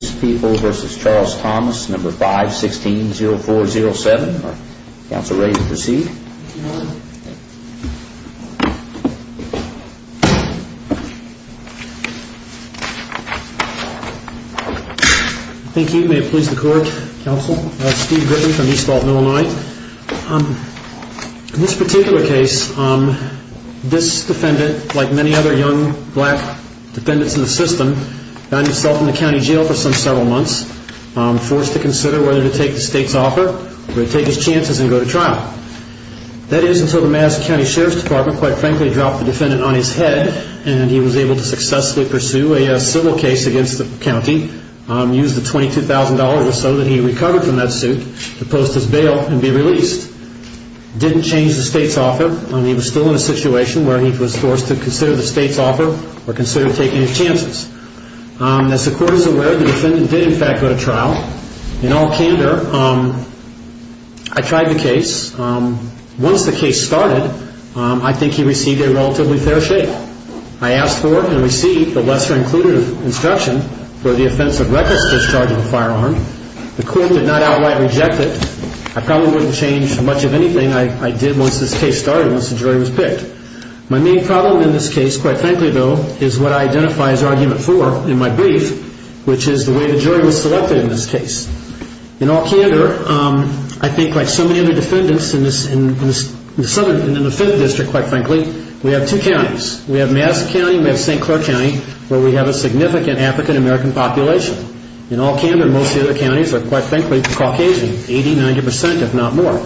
People v. Charles Thomas 516-0407. Are you ready to proceed? Thank you. May it please the court, counsel. I'm Steve Gritton from East Fault, Illinois. In this particular case, this defendant, like many other young black defendants in the system, found himself in the county jail for some several months, forced to consider whether to take the state's offer or take his chances and go to trial. That is until the Madison County Sheriff's Department, quite frankly, dropped the defendant on his head and he was able to successfully pursue a civil case against the county, use the $22,000 or so that he recovered from that suit to post his bail and be released. He didn't change the state's offer. He was still in a situation where he was forced to consider the state's offer or consider taking his chances. As the court is aware, the defendant did, in fact, go to trial. In all candor, I tried the case. Once the case started, I think he received a relatively fair shake. I asked for and received a lesser-included instruction for the offense of reckless discharge of a firearm. The court did not outright reject it. I probably wouldn't change much of anything I did once this case started, once the jury was picked. My main problem in this case, quite frankly, though, is what I identify as argument four in my brief, which is the way the jury was selected in this case. In all candor, I think like so many other defendants in the Fifth District, quite frankly, we have two counties. We have Madison County and we have St. Clair County, where we have a significant African-American population. In all candor, most of the other counties are, quite frankly, Caucasian, 80%, 90% if not more.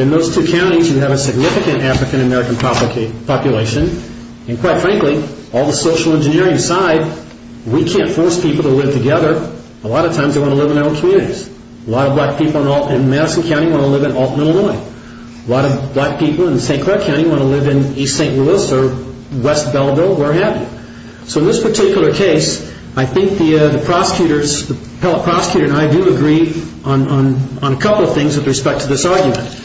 In those two counties, you have a significant African-American population. Quite frankly, on the social engineering side, we can't force people to live together. A lot of times they want to live in their own communities. A lot of black people in Madison County want to live in Alton, Illinois. A lot of black people in St. Clair County want to live in East St. Louis or West Belleville, where have you. So in this particular case, I think the prosecutor and I do agree on a couple of things with respect to this argument.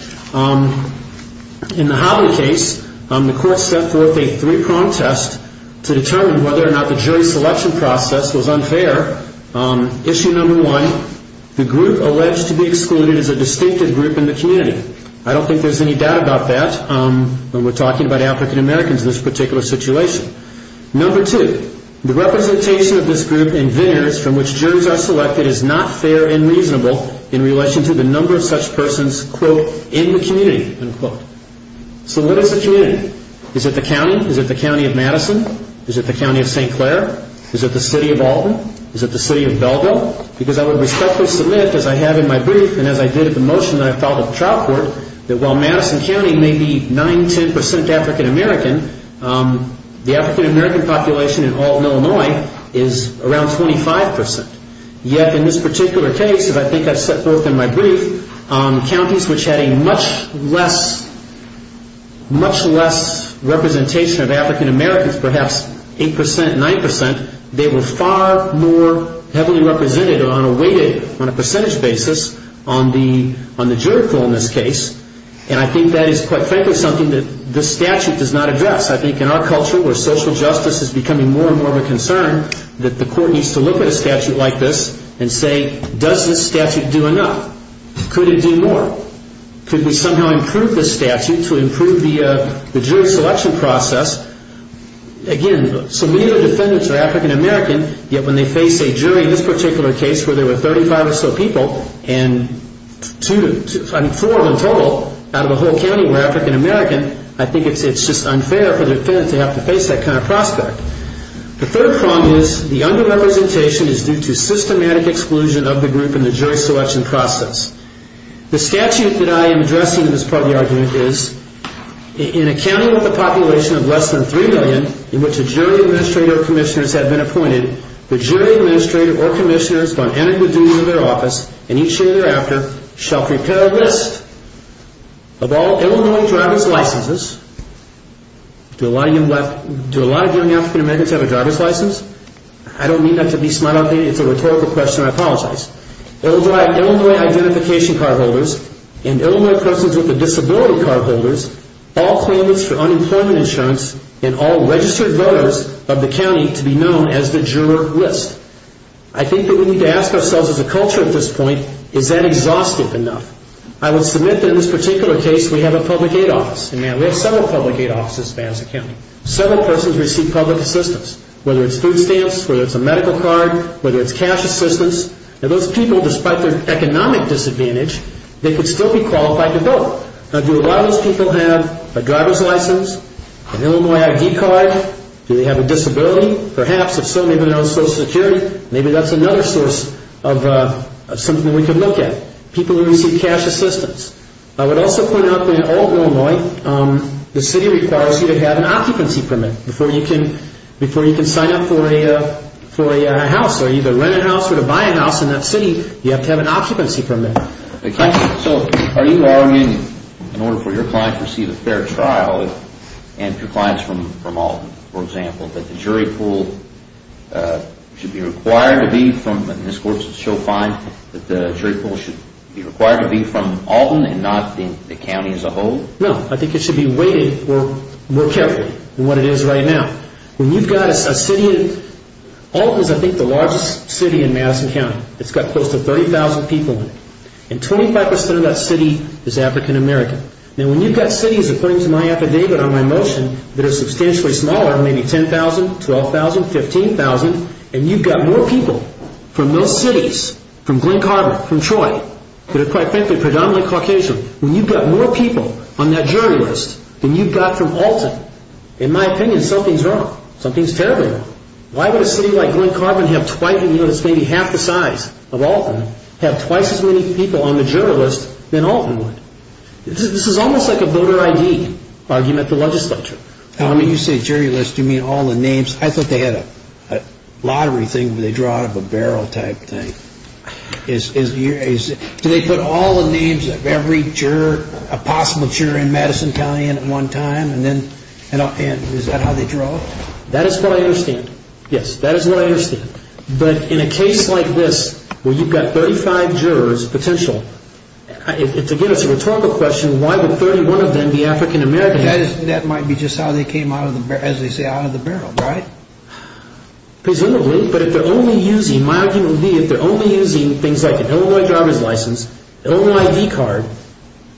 In the Hollywood case, the court set forth a three-prong test to determine whether or not the jury selection process was unfair. Issue number one, the group alleged to be excluded is a distinctive group in the community. I don't think there's any doubt about that when we're talking about African-Americans in this particular situation. Number two, the representation of this group in vineyards from which jurors are selected is not fair and reasonable in relation to the number of such persons, quote, in the community, unquote. So what is the community? Is it the county? Is it the county of Madison? Is it the county of St. Clair? Is it the city of Alton? Is it the city of Belleville? Because I would respectfully submit, as I have in my brief and as I did at the motion that I filed at the trial court, that while Madison County may be 9%, 10% African-American, the African-American population in Alton, Illinois, is around 25%. Yet in this particular case, as I think I've set forth in my brief, counties which had a much less representation of African-Americans, perhaps 8%, 9%, they were far more heavily represented on a weighted, on a percentage basis, on the juridical in this case. And I think that is, quite frankly, something that this statute does not address. I think in our culture where social justice is becoming more and more of a concern, that the court needs to look at a statute like this and say, does this statute do enough? Could it do more? Could we somehow improve this statute to improve the jury selection process? Again, so many of the defendants are African-American, yet when they face a jury in this particular case where there were 35 or so people, and four in total out of a whole county were African-American, I think it's just unfair for the defendant to have to face that kind of prospect. The third problem is the under-representation is due to systematic exclusion of the group in the jury selection process. The statute that I am addressing in this part of the argument is, in a county with a population of less than 3 million in which a jury administrator or commissioners have been appointed, the jury administrator or commissioners, on adequate duty of their office, and each year thereafter, shall prepare a list of all Illinois driver's licenses. Do a lot of young African-Americans have a driver's license? I don't mean that to be smart outdated. It's a rhetorical question. I apologize. It will drive Illinois identification card holders and Illinois persons with a disability card holders, all claimants for unemployment insurance, and all registered voters of the county to be known as the juror list. I think that we need to ask ourselves as a culture at this point, is that exhaustive enough? I will submit that in this particular case, we have a public aid office, and we have several public aid offices as a county. Several persons receive public assistance, whether it's food stamps, whether it's a medical card, whether it's cash assistance. Now, those people, despite their economic disadvantage, they could still be qualified to vote. Now, do a lot of those people have a driver's license, an Illinois ID card? Do they have a disability? Perhaps. If so, maybe they don't have Social Security. Maybe that's another source of something we could look at, people who receive cash assistance. I would also point out that in all of Illinois, the city requires you to have an occupancy permit before you can sign up for a house or either rent a house or buy a house in that city. You have to have an occupancy permit. So are you arguing, in order for your client to receive a fair trial, and for clients from Alton, for example, that the jury pool should be required to be from, and this court should show fine, that the jury pool should be required to be from Alton and not the county as a whole? No, I think it should be weighted more carefully than what it is right now. When you've got a city, Alton is, I think, the largest city in Madison County. It's got close to 30,000 people in it, and 25% of that city is African American. Now, when you've got cities, according to my affidavit or my motion, that are substantially smaller, maybe 10,000, 12,000, 15,000, and you've got more people from those cities, from Glen Carver, from Troy, that are, quite frankly, predominantly Caucasian, when you've got more people on that jury list than you've got from Alton, in my opinion, something's wrong. Something's terribly wrong. Why would a city like Glen Carver, that's maybe half the size of Alton, have twice as many people on the jury list than Alton would? This is almost like a voter ID argument at the legislature. Now, when you say jury list, do you mean all the names? I thought they had a lottery thing where they draw out of a barrel type thing. Do they put all the names of every possible juror in Madison County in at one time, and is that how they draw? That is what I understand. Yes, that is what I understand. But in a case like this, where you've got 35 jurors potential, again, it's a rhetorical question, why would 31 of them be African American? That might be just how they came out of the barrel, as they say, out of the barrel, right? Presumably, but if they're only using, my argument would be if they're only using things like an Illinois driver's license, Illinois ID card,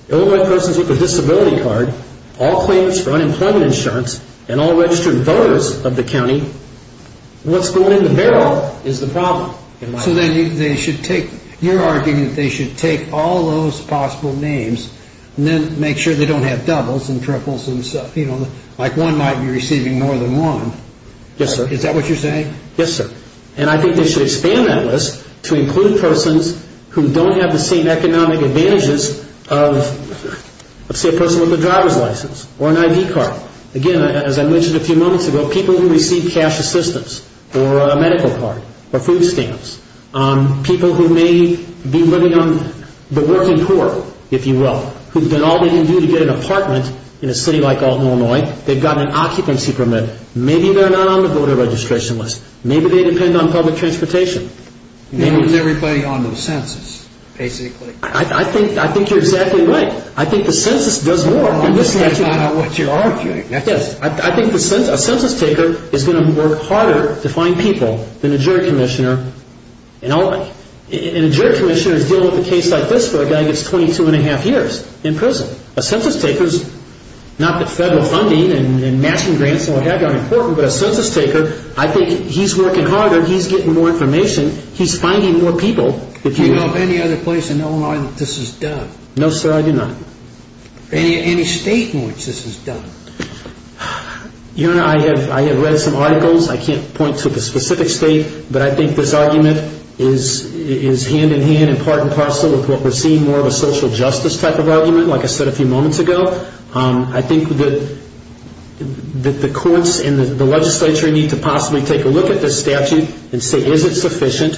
Illinois persons with a disability card, all claims for unemployment insurance, and all registered voters of the county, what's going in the barrel is the problem. So then they should take, you're arguing that they should take all those possible names and then make sure they don't have doubles and triples and stuff. Like one might be receiving more than one. Yes, sir. Is that what you're saying? Yes, sir. And I think they should expand that list to include persons who don't have the same economic advantages of, say, a person with a driver's license or an ID card. Again, as I mentioned a few moments ago, people who receive cash assistance or a medical card or food stamps, people who may be living on the working poor, if you will, who've done all they can do to get an apartment in a city like Alton, Illinois, they've got an occupancy permit. Maybe they're not on the voter registration list. Maybe they depend on public transportation. They're depending on the census, basically. I think you're exactly right. I think the census does more than this statute. That's not what you're arguing. Yes, I think a census taker is going to work harder to find people than a jury commissioner. And a jury commissioner is dealing with a case like this where a guy gets 22 1⁄2 years in prison. A census taker is not that federal funding and matching grants and what have you aren't important, but a census taker, I think he's working harder. He's getting more information. He's finding more people. Do you know of any other place in Illinois that this is done? No, sir, I do not. Any state in which this is done? Your Honor, I have read some articles. I can't point to the specific state, but I think this argument is hand-in-hand and part and parcel with what we're seeing, more of a social justice type of argument, like I said a few moments ago. I think that the courts and the legislature need to possibly take a look at this statute and say, is it sufficient?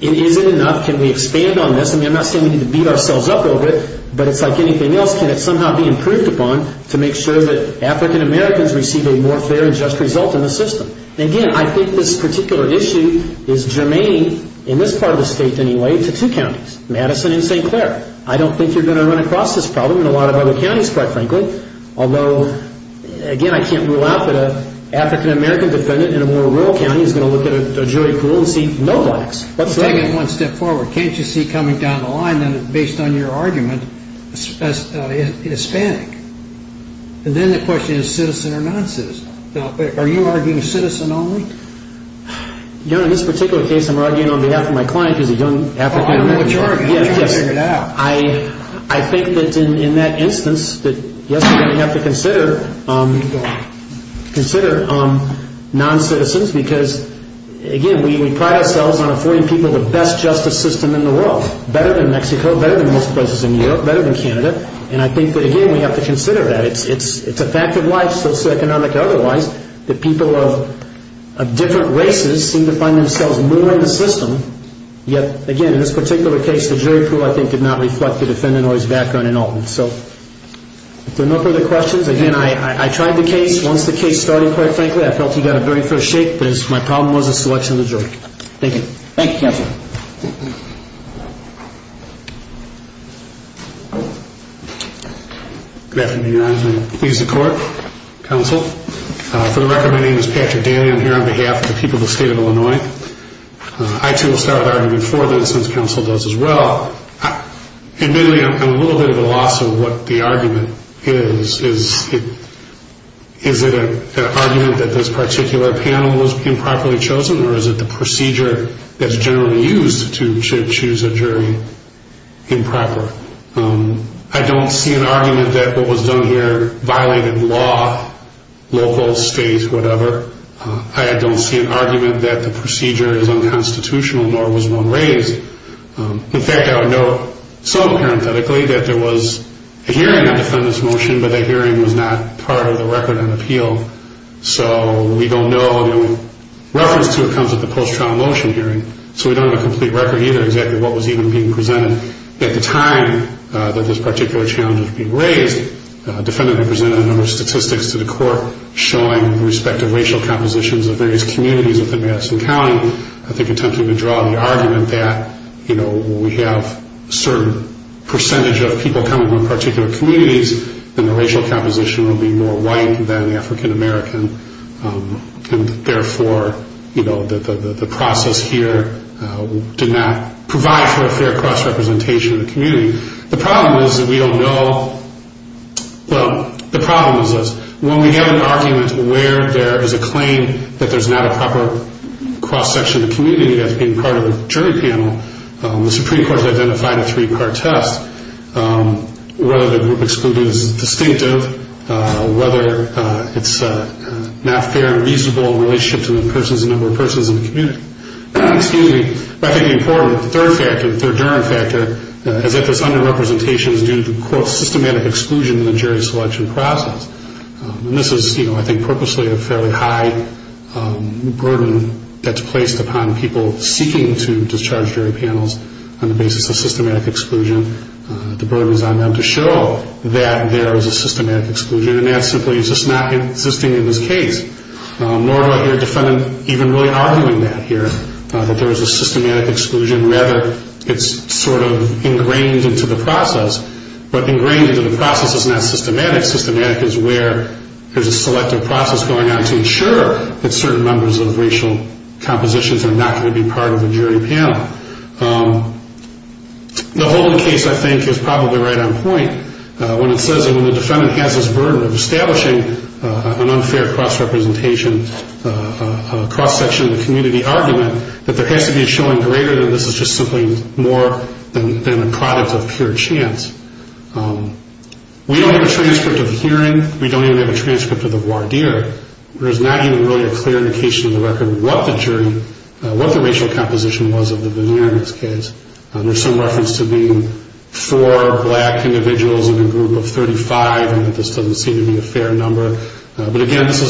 Is it enough? Can we expand on this? I mean, I'm not saying we need to beat ourselves up over it, but it's like anything else, can it somehow be improved upon to make sure that African Americans receive a more fair and just result in the system? Again, I think this particular issue is germane, in this part of the state anyway, to two counties, Madison and St. Clair. I don't think you're going to run across this problem in a lot of other counties, quite frankly, although, again, I can't rule out that an African American defendant in a more rural county is going to look at a jury pool and see no blacks. Let's take it one step forward. Can't you see coming down the line, based on your argument, Hispanic? And then the question is citizen or non-citizen. Now, are you arguing citizen only? You know, in this particular case, I'm arguing on behalf of my client, who's a young African American. Oh, I know what you're arguing. You need to figure it out. I think that in that instance that, yes, we're going to have to consider non-citizens because, again, we pride ourselves on affording people the best justice system in the world, better than Mexico, better than most places in Europe, better than Canada, and I think that, again, we have to consider that. It's a fact of life, socioeconomic or otherwise, that people of different races seem to find themselves more in the system, yet, again, in this particular case, the jury pool, I think, did not reflect the defendant or his background in Alton. So if there are no further questions, again, I tried the case. Once the case started, quite frankly, I felt he got a very first shake, but my problem was the selection of the jury. Thank you. Thank you, counsel. Good afternoon, Your Honor. Please support, counsel. For the record, my name is Patrick Daly. I'm here on behalf of the people of the state of Illinois. I, too, will start arguing for this, as counsel does as well. Admittedly, I'm a little bit at a loss of what the argument is. Is it an argument that this particular panel was improperly chosen, or is it the procedure that's generally used to choose a jury improper? I don't see an argument that what was done here violated law, local, state, whatever. I don't see an argument that the procedure is unconstitutional, nor was one raised. In fact, I would note, so parenthetically, that there was a hearing on defendant's motion, but that hearing was not part of the record on appeal. So we don't know. The only reference to it comes at the post-trial motion hearing, so we don't have a complete record either exactly what was even being presented. At the time that this particular challenge was being raised, the defendant presented a number of statistics to the court showing the respective racial compositions of various communities within Madison County. I think attempting to draw the argument that, you know, we have a certain percentage of people coming from particular communities, then the racial composition will be more white than African American, and therefore, you know, the process here did not provide for a fair cross-representation of the community. The problem is that we don't know, well, the problem is this. When we have an argument where there is a claim that there's not a proper cross-section of the community that's being part of the jury panel, the Supreme Court has identified a three-part test. Whether the group excluded is distinctive, whether it's not fair and reasonable relationships with a number of persons in the community. Excuse me. I think the important third factor, the thirduring factor, is that this under-representation is due to, quote, systematic exclusion in the jury selection process. And this is, you know, I think purposely a fairly high burden that's placed upon people seeking to discharge jury panels on the basis of systematic exclusion. The burden is on them to show that there is a systematic exclusion, and that simply is just not existing in this case. Nor do I hear a defendant even really arguing that here, that there is a systematic exclusion. Rather, it's sort of ingrained into the process. But ingrained into the process is not systematic. Systematic is where there's a selective process going on to ensure that certain numbers of racial compositions are not going to be part of the jury panel. The Holden case, I think, is probably right on point when it says that when the defendant has this burden of establishing an unfair cross-representation, a cross-section of the community argument, that there has to be a showing greater than this is just simply more than a product of pure chance. We don't have a transcript of the hearing. We don't even have a transcript of the voir dire. There's not even really a clear indication of the record what the jury, what the racial composition was of the veneer in this case. There's some reference to being four black individuals in a group of 35, and this doesn't seem to be a fair number. But again, this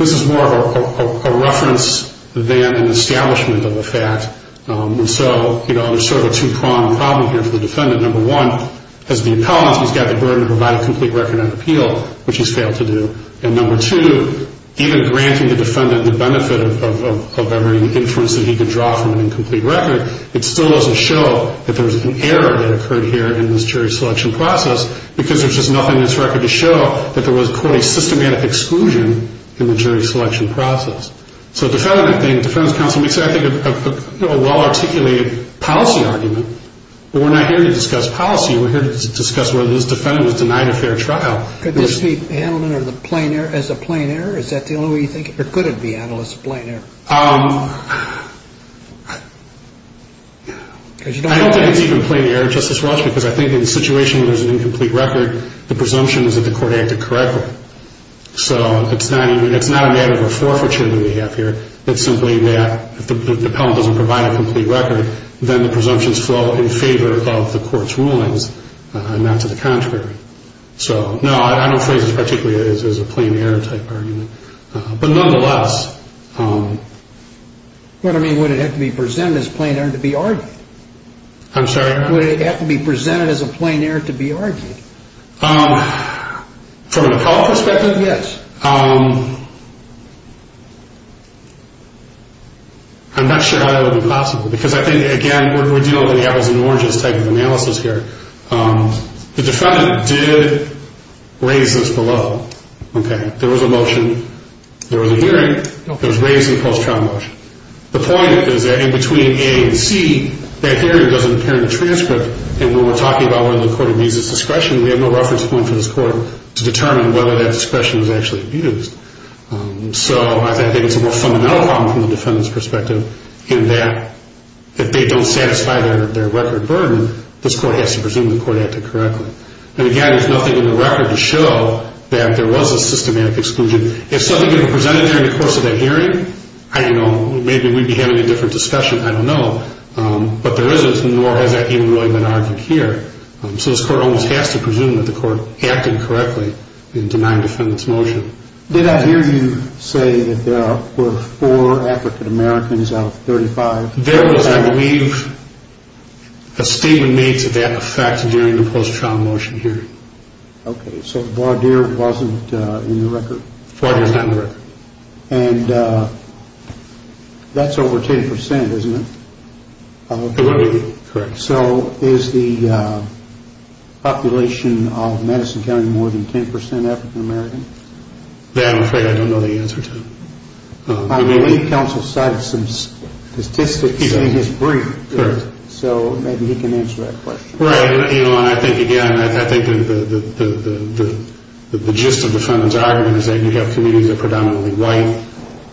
is more of a reference than an establishment of a fact. And so, you know, there's sort of a two-pronged problem here for the defendant. Number one, as the appellant, he's got the burden to provide a complete record of appeal, which he's failed to do. And number two, even granting the defendant the benefit of every inference that he could draw from an incomplete record, it still doesn't show that there's an error that occurred here in this jury selection process because there's just nothing in this record to show that there was, quote, a systematic exclusion in the jury selection process. So defending that thing, the defense counsel makes, I think, a well-articulated policy argument, but we're not here to discuss policy. We're here to discuss whether this defendant was denied a fair trial. Could this be handled as a plain error? Is that the only way you think? Or could it be handled as a plain error? I don't think it's even a plain error, Justice Walsh, because I think in a situation where there's an incomplete record, the presumption is that the court acted correctly. So it's not a matter of a forfeiture that we have here. It's simply that if the appellant doesn't provide a complete record, then the presumptions fall in favor of the court's rulings and not to the contrary. So, no, I don't see this particularly as a plain error type argument. But nonetheless. Well, I mean, would it have to be presented as a plain error to be argued? I'm sorry? Would it have to be presented as a plain error to be argued? From an appellant perspective? Yes. I'm not sure how that would be possible because I think, again, we're dealing with the apples and oranges type of analysis here. The defendant did raise this below. Okay? There was a motion. There was a hearing. It was raised in the post-trial motion. The point is that in between A and C, that hearing doesn't appear in the transcript, and when we're talking about whether the court amuses discretion, we have no reference point for this court to determine whether that discretion is actually used. So I think it's a more fundamental problem from the defendant's perspective in that if they don't satisfy their record burden, this court has to presume the court acted correctly. And, again, there's nothing in the record to show that there was a systematic exclusion. If something could have been presented during the course of that hearing, I don't know. Maybe we'd be having a different discussion. I don't know. But there isn't, nor has that even really been argued here. So this court almost has to presume that the court acted correctly in denying the defendant's motion. Did I hear you say that there were four African-Americans out of 35? There was, I believe, a statement made to that effect during the post-trial motion hearing. Okay. So Vardir wasn't in the record? Vardir's not in the record. And that's over 10%, isn't it? It would be, correct. So is the population of Madison County more than 10% African-American? That I'm afraid I don't know the answer to. I believe counsel cited some statistics in his brief. So maybe he can answer that question. Right. And I think, again, I think the gist of the defendant's argument is that you have communities that are predominantly white.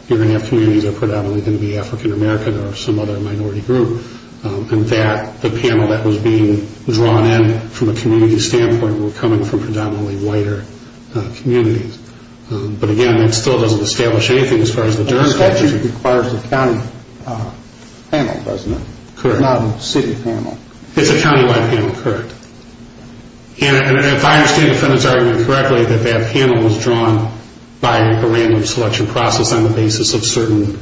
You're going to have communities that are predominantly going to be African-American or some other minority group. In fact, the panel that was being drawn in from a community standpoint were coming from predominantly whiter communities. But, again, that still doesn't establish anything as far as the jurisdiction. The statute requires a county panel, doesn't it? Correct. Not a city panel. It's a county-wide panel, correct. And if I understand the defendant's argument correctly, that that panel was drawn by a random selection process on the basis of certain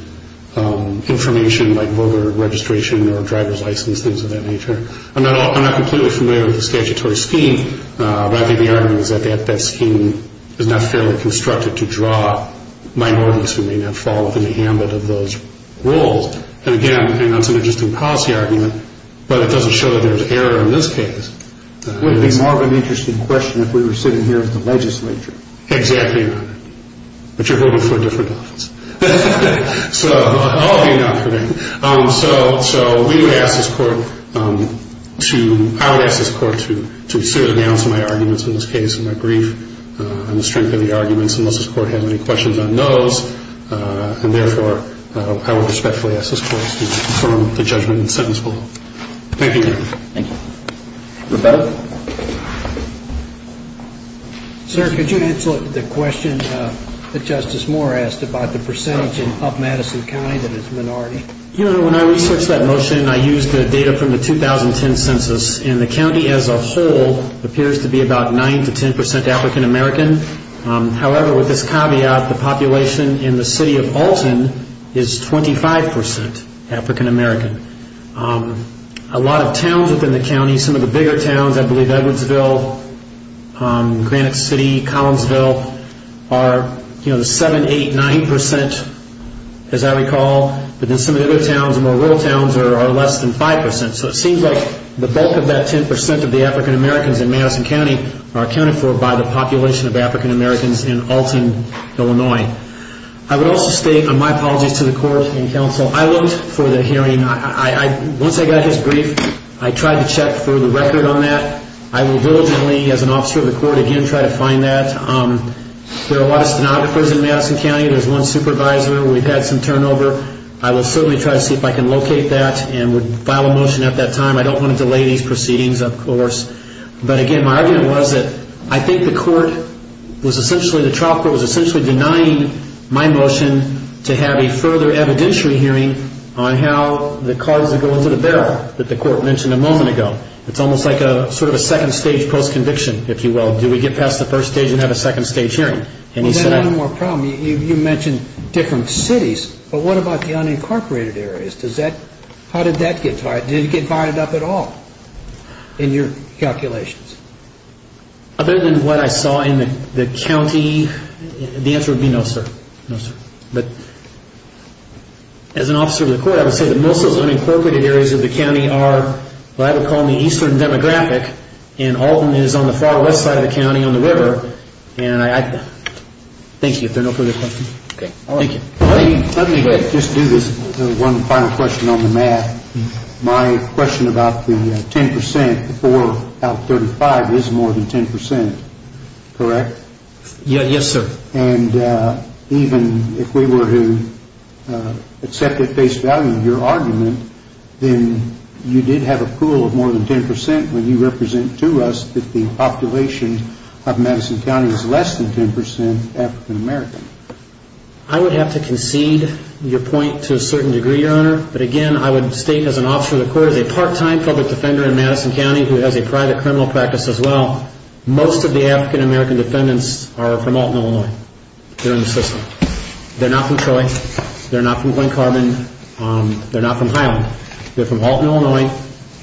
information, like voter registration or driver's license, things of that nature. I'm not completely familiar with the statutory scheme, but I think the argument is that that scheme is not fairly constructed to draw minorities who may not fall within the ambit of those roles. And, again, that's an interesting policy argument, but it doesn't show that there's error in this case. It would be more of an interesting question if we were sitting here at the legislature. Exactly. But you're voting for a different office. So I'll be an alternate. So we would ask this court to – I would ask this court to sit down to my arguments in this case, and my brief on the strength of the arguments, unless this court has any questions on those. And, therefore, I would respectfully ask this court to confirm the judgment in the sentence below. Thank you. Thank you. Roberto? Sir, could you answer the question that Justice Moore asked about the percentage in up Madison County that is minority? You know, when I researched that motion, I used the data from the 2010 census, and the county as a whole appears to be about 9 to 10 percent African American. However, with this caveat, the population in the city of Alton is 25 percent African American. A lot of towns within the county, some of the bigger towns, I believe Edwardsville, Granite City, Collinsville, are 7, 8, 9 percent, as I recall. But then some of the other towns, the more rural towns, are less than 5 percent. So it seems like the bulk of that 10 percent of the African Americans in Madison County are accounted for by the population of African Americans in Alton, Illinois. I would also state my apologies to the court and counsel. I looked for the hearing. Once I got his brief, I tried to check for the record on that. I will diligently, as an officer of the court, again try to find that. There are a lot of stenographers in Madison County. There's one supervisor. We've had some turnover. I will certainly try to see if I can locate that and would file a motion at that time. I don't want to delay these proceedings, of course. But again, my argument was that I think the court was essentially denying my motion to have a further evidentiary hearing on how the cards would go into the barrel that the court mentioned a moment ago. It's almost like a sort of a second-stage post-conviction, if you will. Do we get past the first stage and have a second-stage hearing? Well, then I have one more problem. You mentioned different cities, but what about the unincorporated areas? How did that get violated? Did it get violated at all? In your calculations. Other than what I saw in the county, the answer would be no, sir. No, sir. But as an officer of the court, I would say that most of the unincorporated areas of the county are what I would call the eastern demographic, and Alton is on the far west side of the county on the river. And I thank you if there are no further questions. Okay. Thank you. Let me just do this one final question on the math. My question about the 10% before out 35 is more than 10%, correct? Yes, sir. And even if we were to accept at face value your argument, then you did have a pool of more than 10% when you represent to us that the population of Madison County is less than 10% African-American. I would have to concede your point to a certain degree, Your Honor. But again, I would state as an officer of the court, as a part-time public defender in Madison County who has a private criminal practice as well, most of the African-American defendants are from Alton, Illinois. They're in the system. They're not from Troy. They're not from Glen Carbon. They're not from Highland. They're from Alton, Illinois,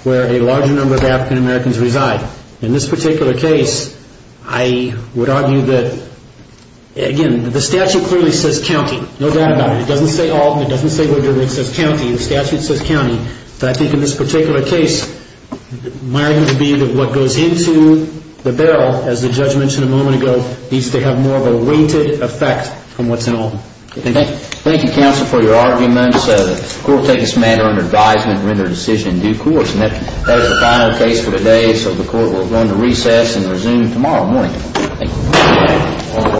where a larger number of African-Americans reside. In this particular case, I would argue that, again, the statute clearly says county. No doubt about it. It doesn't say Alton. It doesn't say where you're from. It says county. The statute says county. But I think in this particular case, my argument would be that what goes into the barrel, as the judge mentioned a moment ago, needs to have more of a weighted effect on what's in Alton. Thank you. Thank you, counsel, for your arguments. The court will take this matter under advisement and render a decision in due course. And that is the final case for today, so the court will go into recess and resume tomorrow morning. Thank you.